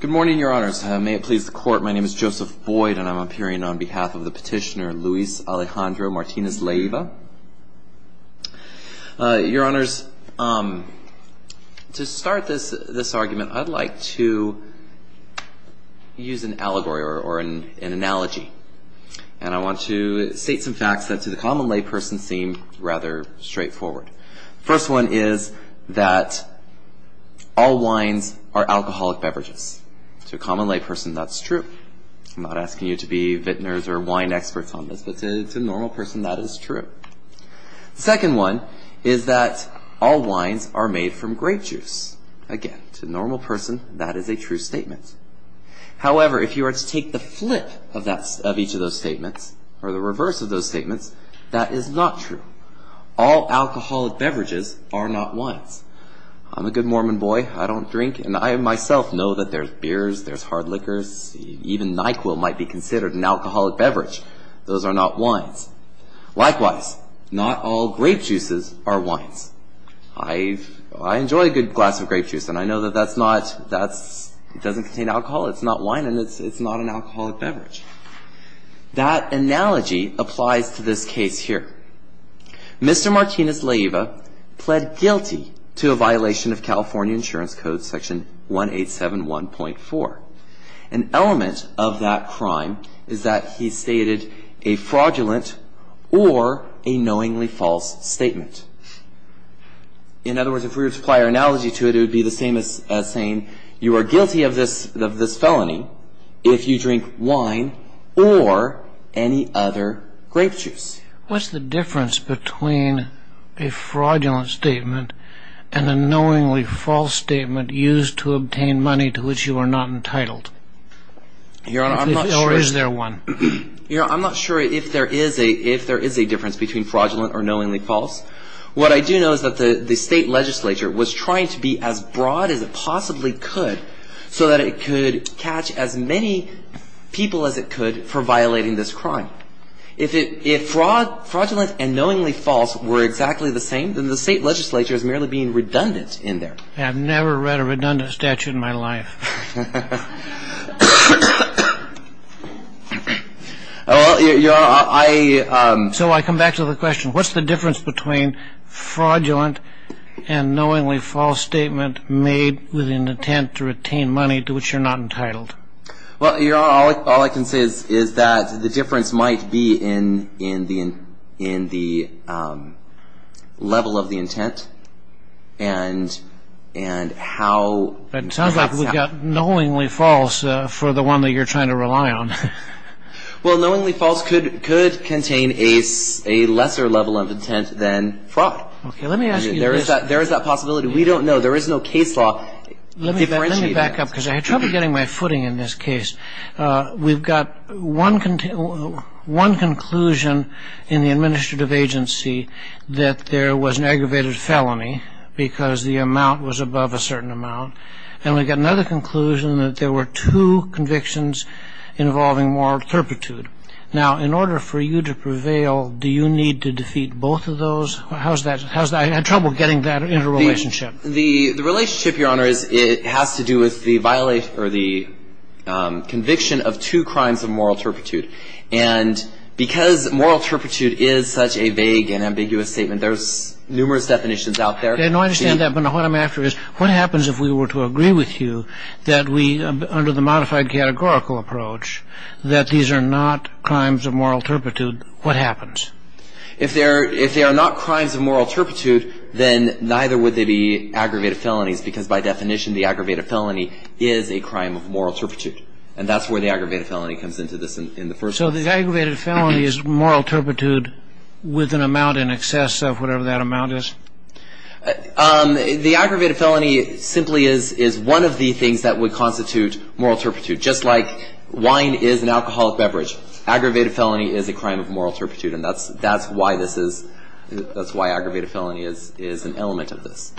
Good morning, Your Honors. May it please the Court, my name is Joseph Boyd, and I'm appearing on behalf of the petitioner Luis Alejandro Martinez-Leiva. Your Honors, to start this argument, I'd like to use an allegory or an analogy. And I want to state some facts that to the common layperson seem rather straightforward. The first one is that all wines are alcoholic beverages. To a common layperson, that's true. I'm not asking you to be vintners or wine experts on this, but to a normal person, that is true. The second one is that all wines are made from grape juice. Again, to a normal person, that is a true statement. However, if you were to take the flip of each of those statements, or the reverse of those statements, that is not true. All alcoholic beverages are not wines. I'm a good Mormon boy, I don't drink, and I myself know that there's beers, there's hard liquors, even NyQuil might be considered an alcoholic beverage. Those are not wines. Likewise, not all grape juices are wines. I enjoy a good glass of grape juice, and I know that that's not... that doesn't contain alcohol, it's not wine, and it's not an alcoholic beverage. That analogy applies to this case here. Mr. Martinez-Leyva pled guilty to a violation of California Insurance Code Section 187.1.4. An element of that crime is that he stated a fraudulent or a knowingly false statement. In other words, if we were to apply our analogy to it, it would be the same as saying you are guilty of this felony if you drink wine or any other grape juice. What's the difference between a fraudulent statement and a knowingly false statement used to obtain money to which you are not entitled? Your Honor, I'm not sure... Or is there one? Your Honor, I'm not sure if there is a difference between fraudulent or knowingly false. What I do know is that the State Legislature was trying to be as broad as it possibly could so that it could catch as many people as it could for violating this crime. If fraudulent and knowingly false were exactly the same, then the State Legislature is merely being redundant in there. I've never read a redundant statute in my life. Well, Your Honor, I... So I come back to the question. What's the difference between fraudulent and knowingly false statement made with an intent to retain money to which you're not entitled? Well, Your Honor, all I can say is that the difference might be in the level of the intent and how... It sounds like we've got knowingly false for the one that you're trying to rely on. Well, knowingly false could contain a lesser level of intent than fraud. Let me ask you this. There is that possibility. We don't know. There is no case law to differentiate that. Let me back up because I had trouble getting my footing in this case. We've got one conclusion in the administrative agency that there was an aggravated felony because the amount was above a certain amount. And we've got another conclusion that there were two convictions involving moral turpitude. Now, in order for you to prevail, do you need to defeat both of those? How's that? I had trouble getting that into a relationship. The relationship, Your Honor, has to do with the violation or the conviction of two crimes of moral turpitude. And because moral turpitude is such a vague and ambiguous statement, there's numerous definitions out there. I understand that, but what I'm after is what happens if we were to agree with you that we, under the modified categorical approach, that these are not crimes of moral turpitude? What happens? If they are not crimes of moral turpitude, then neither would they be aggravated felonies because, by definition, the aggravated felony is a crime of moral turpitude. And that's where the aggravated felony comes into this in the first place. So the aggravated felony is moral turpitude with an amount in excess of whatever that amount is? The aggravated felony simply is one of the things that would constitute moral turpitude. Just like wine is an alcoholic beverage, aggravated felony is a crime of moral turpitude, and that's why aggravated felony is an element of this.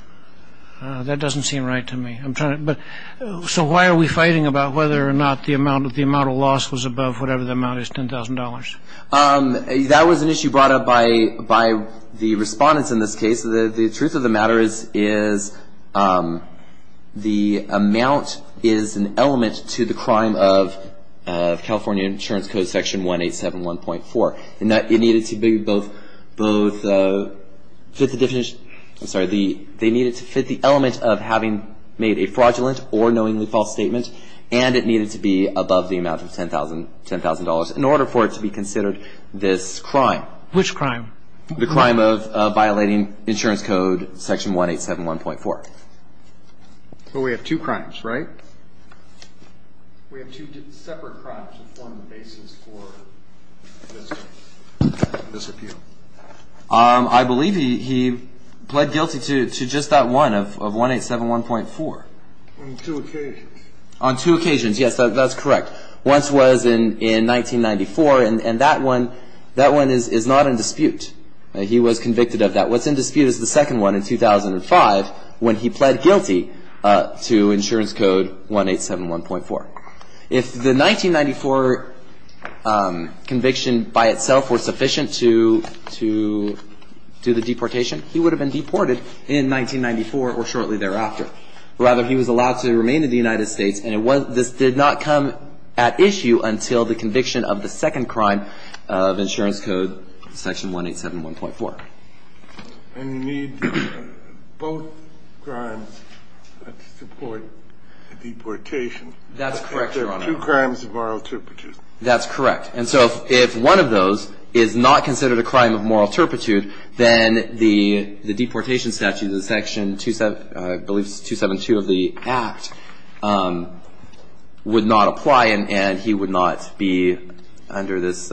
That doesn't seem right to me. So why are we fighting about whether or not the amount of loss was above whatever the amount is, $10,000? That was an issue brought up by the respondents in this case. The truth of the matter is the amount is an element to the crime of California Insurance Code Section 187.1.4. And that it needed to be both, both, fit the definition, I'm sorry, they needed to fit the element of having made a fraudulent or knowingly false statement, and it needed to be above the amount of $10,000 in order for it to be considered this crime. Which crime? The crime of violating Insurance Code Section 187.1.4. But we have two crimes, right? We have two separate crimes that form the basis for this appeal. I believe he pled guilty to just that one of 187.1.4. On two occasions. On two occasions, yes, that's correct. Once was in 1994, and that one is not in dispute. He was convicted of that. What's in dispute is the second one in 2005 when he pled guilty to Insurance Code 187.1.4. If the 1994 conviction by itself was sufficient to do the deportation, he would have been deported in 1994 or shortly thereafter. Rather, he was allowed to remain in the United States, and this did not come at issue until the conviction of the second crime of Insurance Code Section 187.1.4. And you need both crimes to support the deportation. That's correct, Your Honor. Two crimes of moral turpitude. That's correct. And so if one of those is not considered a crime of moral turpitude, then the deportation statute of the Section 272 of the Act would not apply, and he would not be under this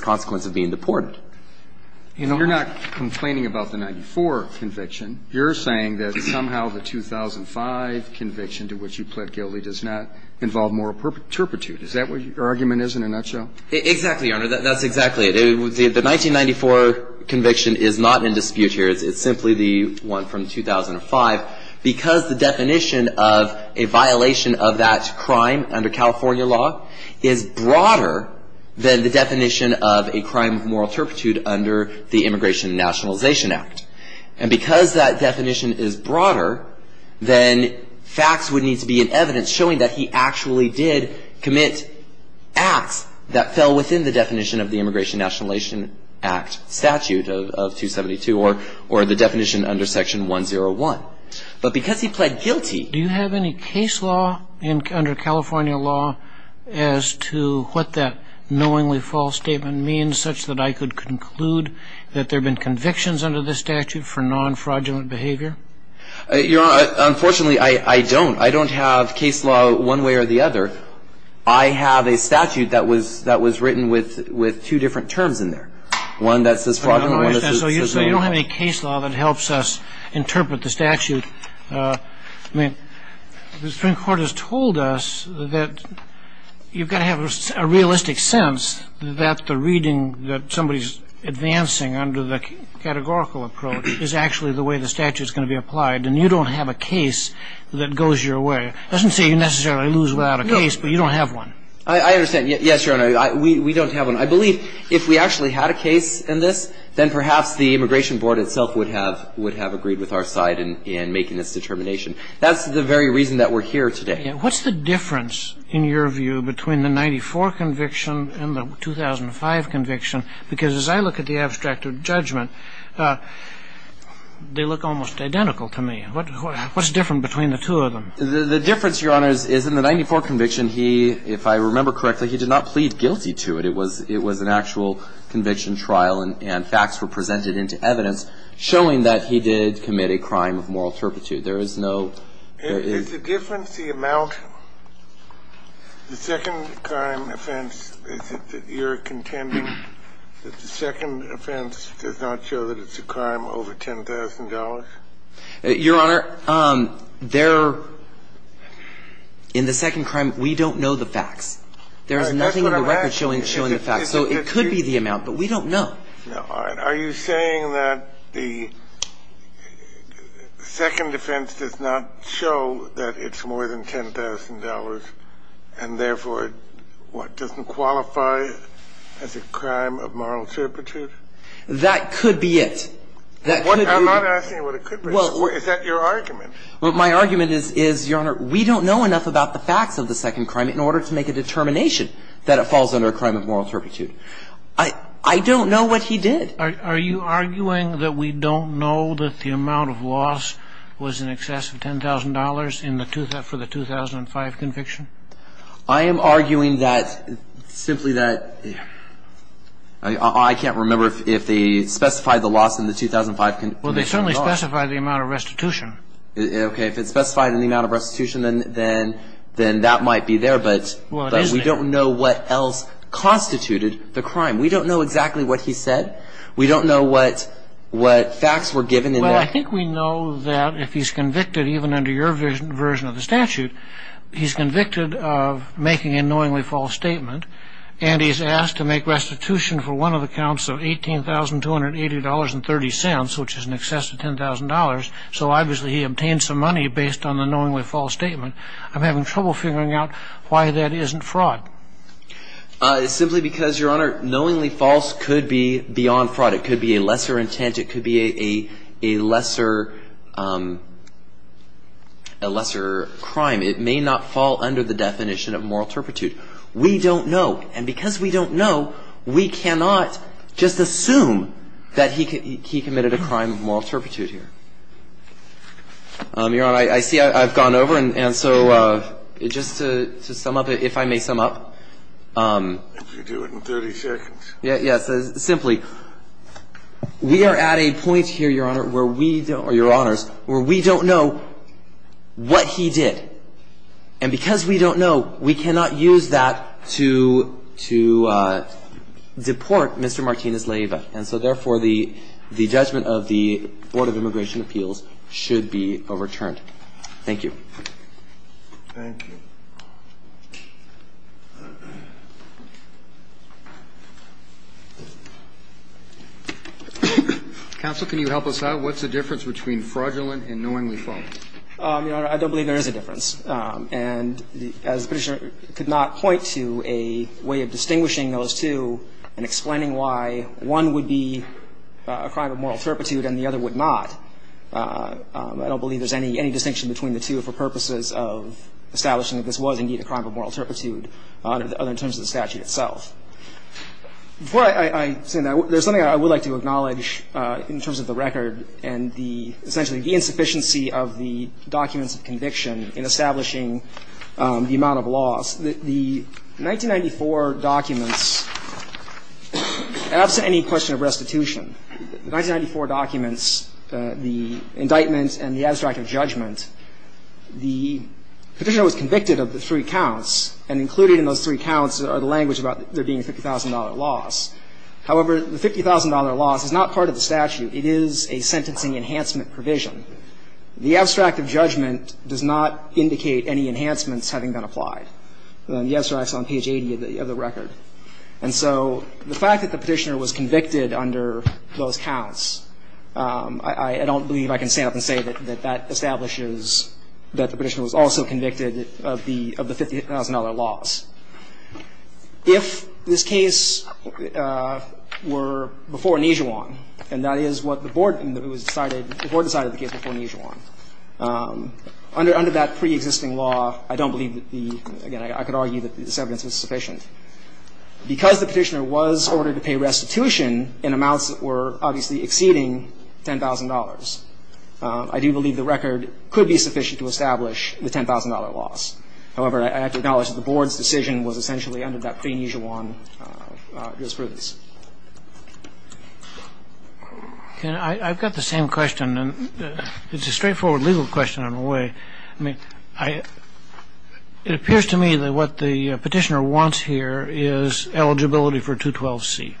consequence of being deported. And you're not complaining about the 94 conviction. You're saying that somehow the 2005 conviction to which you pled guilty does not involve moral turpitude. Is that what your argument is in a nutshell? Exactly, Your Honor. That's exactly it. The 1994 conviction is not in dispute here. It's simply the one from 2005, because the definition of a violation of that crime under California law is broader than the definition of a crime of moral turpitude under the Immigration and Nationalization Act. And because that definition is broader, then facts would need to be in evidence showing that he actually did commit acts that fell within the definition of the Immigration and Nationalization Act statute of 272 or the definition under Section 101. But because he pled guilty. Do you have any case law under California law as to what that knowingly false statement means, such that I could conclude that there have been convictions under this statute for non-fraudulent behavior? Your Honor, unfortunately, I don't. I don't have case law one way or the other. I have a statute that was written with two different terms in there, one that says fraudulent and one that says knowingly false. I don't have a case law that helps us interpret the statute. I mean, the Supreme Court has told us that you've got to have a realistic sense that the reading that somebody is advancing under the categorical approach is actually the way the statute is going to be applied. And you don't have a case that goes your way. It doesn't say you necessarily lose without a case, but you don't have one. I understand. Yes, Your Honor. We don't have one. I believe if we actually had a case in this, then perhaps the Immigration Board itself would have agreed with our side in making this determination. That's the very reason that we're here today. What's the difference, in your view, between the 94 conviction and the 2005 conviction? Because as I look at the abstract of judgment, they look almost identical to me. What's different between the two of them? The difference, Your Honor, is in the 94 conviction, he, if I remember correctly, he did not plead guilty to it. It was an actual conviction trial, and facts were presented into evidence showing that he did commit a crime of moral turpitude. There is no – Is the difference the amount? The second-crime offense, is it that you're contending that the second offense does not show that it's a crime over $10,000? Your Honor, there – in the second crime, we don't know the facts. There's nothing in the record showing the facts. So it could be the amount, but we don't know. All right. Are you saying that the second offense does not show that it's more than $10,000 and, therefore, what, doesn't qualify as a crime of moral turpitude? That could be it. That could be it. I'm not asking what it could be. Is that your argument? Well, my argument is, Your Honor, we don't know enough about the facts of the second crime in order to make a determination that it falls under a crime of moral turpitude. I don't know what he did. Are you arguing that we don't know that the amount of loss was in excess of $10,000 in the – for the 2005 conviction? I am arguing that – simply that – I can't remember if they specified the loss in the 2005 conviction. Well, they certainly specified the amount of restitution. Okay. If it's specified in the amount of restitution, then that might be there. But we don't know what else constituted the crime. We don't know exactly what he said. We don't know what facts were given in that. Well, I think we know that if he's convicted, even under your version of the statute, he's convicted of making a knowingly false statement, and he's asked to make restitution for one of the counts of $18,280.30, which is in excess of $10,000. So obviously he obtained some money based on the knowingly false statement. I'm having trouble figuring out why that isn't fraud. Simply because, Your Honor, knowingly false could be beyond fraud. It could be a lesser intent. It could be a lesser – a lesser crime. It may not fall under the definition of moral turpitude. We don't know. And because we don't know, we cannot just assume that he committed a crime of moral turpitude here. Your Honor, I see I've gone over, and so just to sum up, if I may sum up. If you do it in 30 seconds. Yes. Simply, we are at a point here, Your Honor, where we don't – or, Your Honors, where we don't know what he did. And because we don't know, we cannot use that to – to deport Mr. Martinez-Leyva. And so, therefore, the – the judgment of the Board of Immigration Appeals should be overturned. Thank you. Thank you. Counsel, can you help us out? What's the difference between fraudulent and knowingly false? Your Honor, I don't believe there is a difference. And as the Petitioner could not point to a way of distinguishing those two and explaining why one would be a crime of moral turpitude and the other would not, I don't believe there's any distinction between the two for purposes of establishing that this was indeed a crime of moral turpitude, other than in terms of the statute itself. Before I say that, there's something I would like to acknowledge in terms of the record and the – essentially the insufficiency of the documents of conviction in establishing the amount of loss. The 1994 documents, absent any question of restitution, the 1994 documents, the indictment and the abstract of judgment, the Petitioner was convicted of the three counts, and included in those three counts are the language about there being a $50,000 loss. However, the $50,000 loss is not part of the statute. It is a sentencing enhancement provision. The abstract of judgment does not indicate any enhancements having been applied. The abstract is on page 80 of the record. And so the fact that the Petitioner was convicted under those counts, I don't believe I can stand up and say that that establishes that the Petitioner was also convicted of the $50,000 loss. If this case were before Nijuan, and that is what the Board decided, the Board decided the case before Nijuan, under that preexisting law, I don't believe that the – again, I could argue that this evidence was sufficient. Because the Petitioner was ordered to pay restitution in amounts that were obviously exceeding $10,000, I do believe the record could be sufficient to establish the $10,000 loss. However, I have to acknowledge that the Board's decision was essentially under that pre-Nijuan jurisprudence. I've got the same question. It's a straightforward legal question, in a way. I mean, it appears to me that what the Petitioner wants here is eligibility for 212C.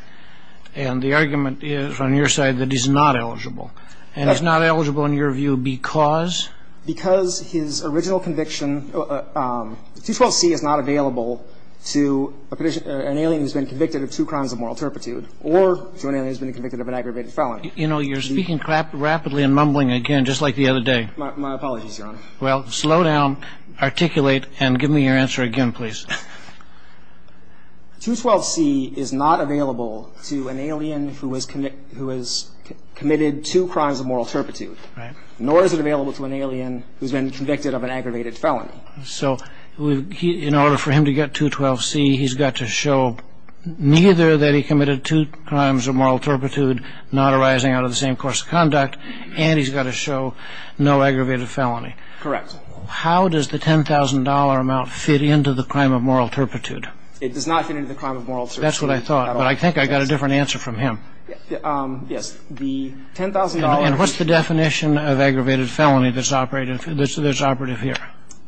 And the argument is, on your side, that he's not eligible. And he's not eligible, in your view, because? Because his original conviction – 212C is not available to an alien who's been convicted of two crimes of moral turpitude or to an alien who's been convicted of an aggravated felony. You know, you're speaking rapidly and mumbling again, just like the other day. My apologies, Your Honor. Well, slow down, articulate, and give me your answer again, please. 212C is not available to an alien who has committed two crimes of moral turpitude. Right. Or is it available to an alien who's been convicted of an aggravated felony? So in order for him to get 212C, he's got to show neither that he committed two crimes of moral turpitude not arising out of the same course of conduct, and he's got to show no aggravated felony. Correct. How does the $10,000 amount fit into the crime of moral turpitude? It does not fit into the crime of moral turpitude. That's what I thought. But I think I got a different answer from him. Yes. It's the $10,000. And what's the definition of aggravated felony that's operative here?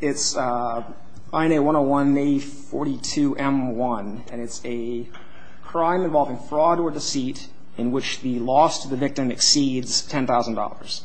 It's INA 101-A42M1, and it's a crime involving fraud or deceit in which the loss to the victim exceeds $10,000.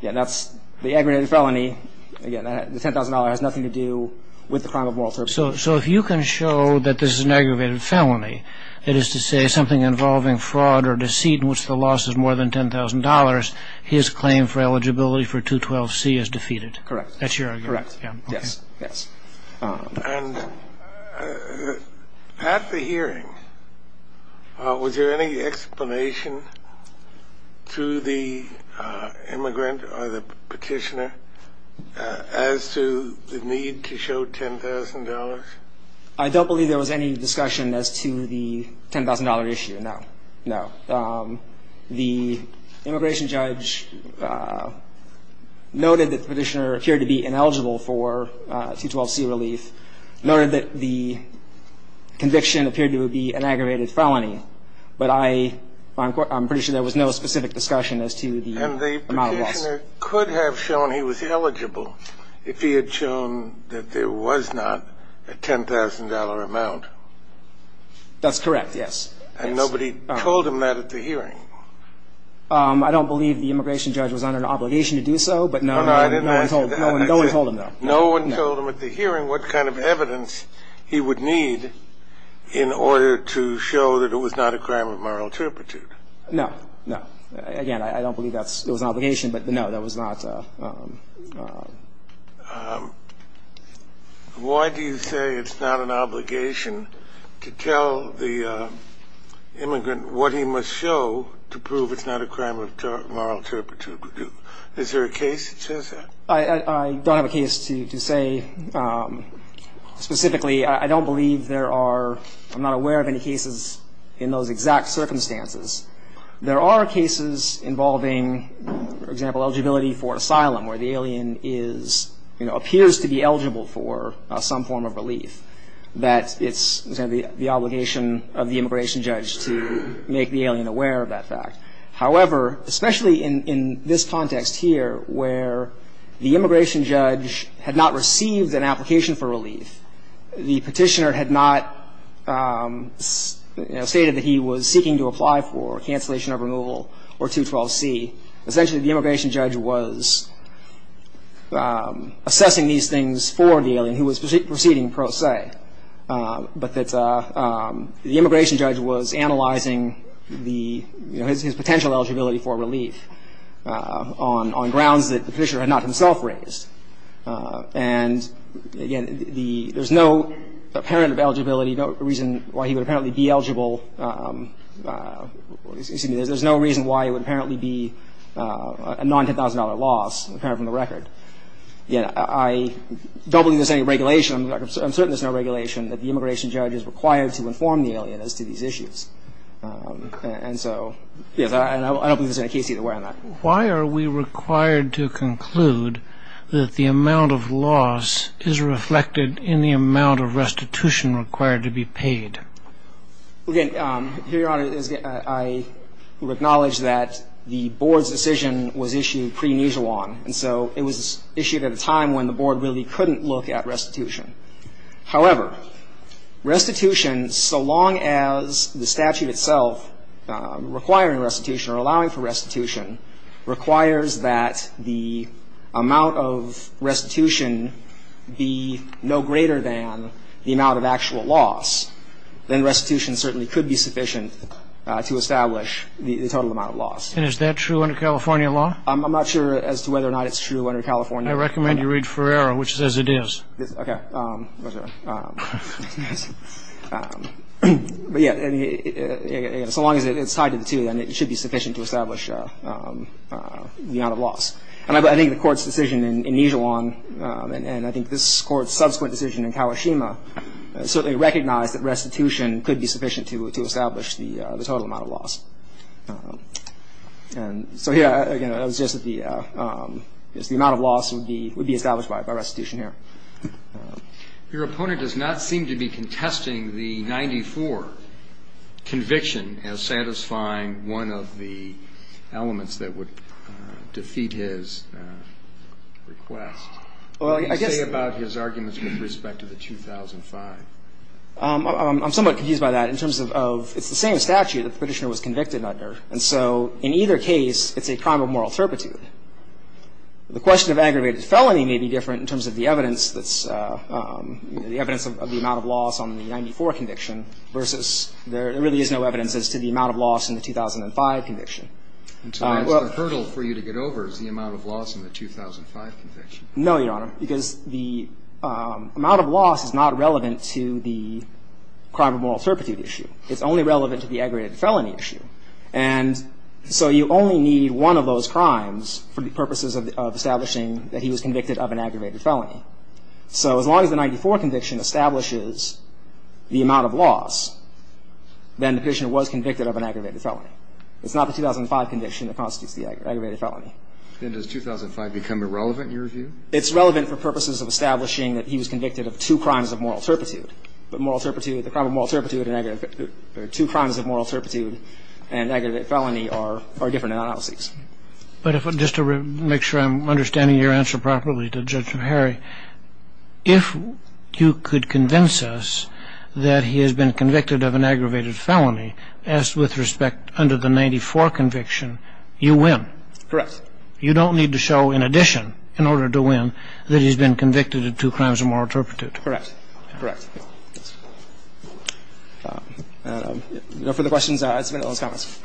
Again, that's the aggravated felony. Again, the $10,000 has nothing to do with the crime of moral turpitude. So if you can show that this is an aggravated felony, it is to say something involving fraud or deceit in which the loss is more than $10,000, his claim for eligibility for 212C is defeated. Correct. That's your argument? Correct. Yes. And at the hearing, was there any explanation to the immigrant or the petitioner as to the need to show $10,000? I don't believe there was any discussion as to the $10,000 issue, no. No. The immigration judge noted that the petitioner appeared to be ineligible for 212C relief, noted that the conviction appeared to be an aggravated felony. But I'm pretty sure there was no specific discussion as to the amount of loss. The petitioner could have shown he was eligible if he had shown that there was not a $10,000 amount. That's correct, yes. And nobody told him that at the hearing? I don't believe the immigration judge was under an obligation to do so, but no one told him. No one told him at the hearing what kind of evidence he would need in order to show that it was not a crime of moral turpitude. No, no. Again, I don't believe that was an obligation, but no, that was not. Why do you say it's not an obligation to tell the immigrant what he must show to prove it's not a crime of moral turpitude? Is there a case that says that? I don't have a case to say specifically. I don't believe there are, I'm not aware of any cases in those exact circumstances. There are cases involving, for example, eligibility for asylum where the alien appears to be eligible for some form of relief, that it's the obligation of the immigration judge to make the alien aware of that fact. However, especially in this context here where the immigration judge had not received an application for relief, the petitioner had not stated that he was seeking to apply for cancellation of removal or 212C. Essentially, the immigration judge was assessing these things for the alien who was proceeding pro se, but the immigration judge was analyzing his potential eligibility for relief on grounds that the petitioner had not himself raised. And again, there's no apparent of eligibility, no reason why he would apparently be eligible. Excuse me. There's no reason why it would apparently be a non-$10,000 loss, apparent from the record. I don't believe there's any regulation. I'm certain there's no regulation that the immigration judge is required to inform the alien as to these issues. And so, yes, I don't believe there's any case either way on that. Why are we required to conclude that the amount of loss is reflected in the amount of restitution required to be paid? Okay. Here, Your Honor, I would acknowledge that the board's decision was issued pre-Nissan, and so it was issued at a time when the board really couldn't look at restitution. However, restitution, so long as the statute itself requiring restitution or allowing for restitution, requires that the amount of restitution be no greater than the amount of actual loss, then restitution certainly could be sufficient to establish the total amount of loss. And is that true under California law? I'm not sure as to whether or not it's true under California law. I recommend you read Ferreira, which says it is. Okay. But, yes, so long as it's tied to the two, then it should be sufficient to establish the amount of loss. And I think the court's decision in Nijiwan, and I think this court's subsequent decision in Kawashima, certainly recognized that restitution could be sufficient to establish the total amount of loss. And so here, again, it was just that the amount of loss would be established by restitution here. Your opponent does not seem to be contesting the 94 conviction as satisfying one of the elements that would defeat his request. What do you say about his arguments with respect to the 2005? I'm somewhat confused by that in terms of it's the same statute that the Petitioner was convicted under. And so in either case, it's a crime of moral turpitude. The question of aggravated felony may be different in terms of the evidence that's the evidence of the amount of loss on the 94 conviction versus there really is no evidence as to the amount of loss in the 2005 conviction. The hurdle for you to get over is the amount of loss in the 2005 conviction. No, Your Honor, because the amount of loss is not relevant to the crime of moral turpitude issue. It's only relevant to the aggravated felony issue. And so you only need one of those crimes for the purposes of establishing that he was convicted of an aggravated felony. So as long as the 94 conviction establishes the amount of loss, then the Petitioner was convicted of an aggravated felony. It's not the 2005 conviction that constitutes the aggravated felony. Then does 2005 become irrelevant in your view? It's relevant for purposes of establishing that he was convicted of two crimes of moral turpitude. But moral turpitude, the crime of moral turpitude, two crimes of moral turpitude and aggravated felony are different analyses. But just to make sure I'm understanding your answer properly to Judge O'Hare, if you could convince us that he has been convicted of an aggravated felony as with respect under the 94 conviction, you win. Correct. You don't need to show in addition, in order to win, that he's been convicted of two crimes of moral turpitude. Correct. Correct. No further questions. I submit those comments.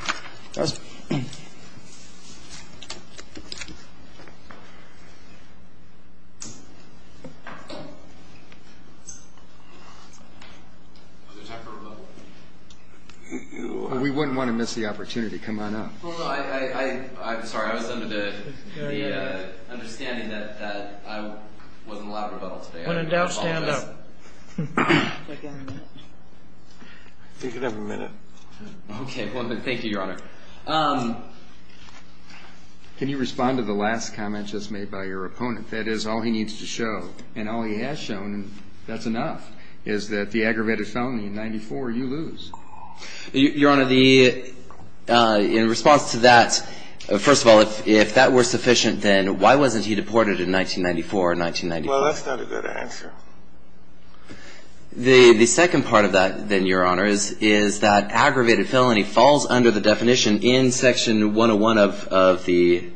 We wouldn't want to miss the opportunity. Come on up. I'm sorry. I was under the understanding that I wasn't allowed to rebuttal today. When in doubt, stand up. You can have a minute. Okay. Thank you, Your Honor. Can you respond to the last comment just made by your opponent? That is, all he needs to show, and all he has shown, and that's enough, is that the aggravated felony in 94, you lose. Your Honor, in response to that, first of all, if that were sufficient, then why wasn't he deported in 1994 or 1995? Well, that's not a good answer. The second part of that, then, Your Honor, is that aggravated felony falls under the definition in Section 101 of the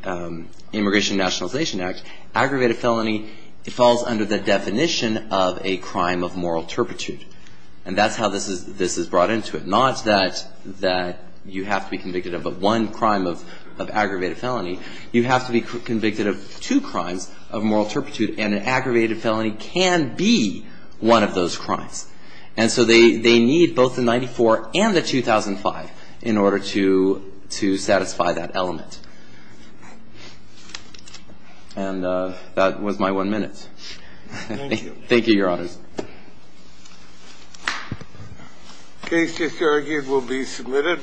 Immigration and Nationalization Act. Aggravated felony falls under the definition of a crime of moral turpitude. And that's how this is brought into it. Not that you have to be convicted of one crime of aggravated felony. You have to be convicted of two crimes of moral turpitude, and an aggravated felony can be one of those crimes. And so they need both the 94 and the 2005 in order to satisfy that element. And that was my one minute. Thank you, Your Honor. Case disargued will be submitted.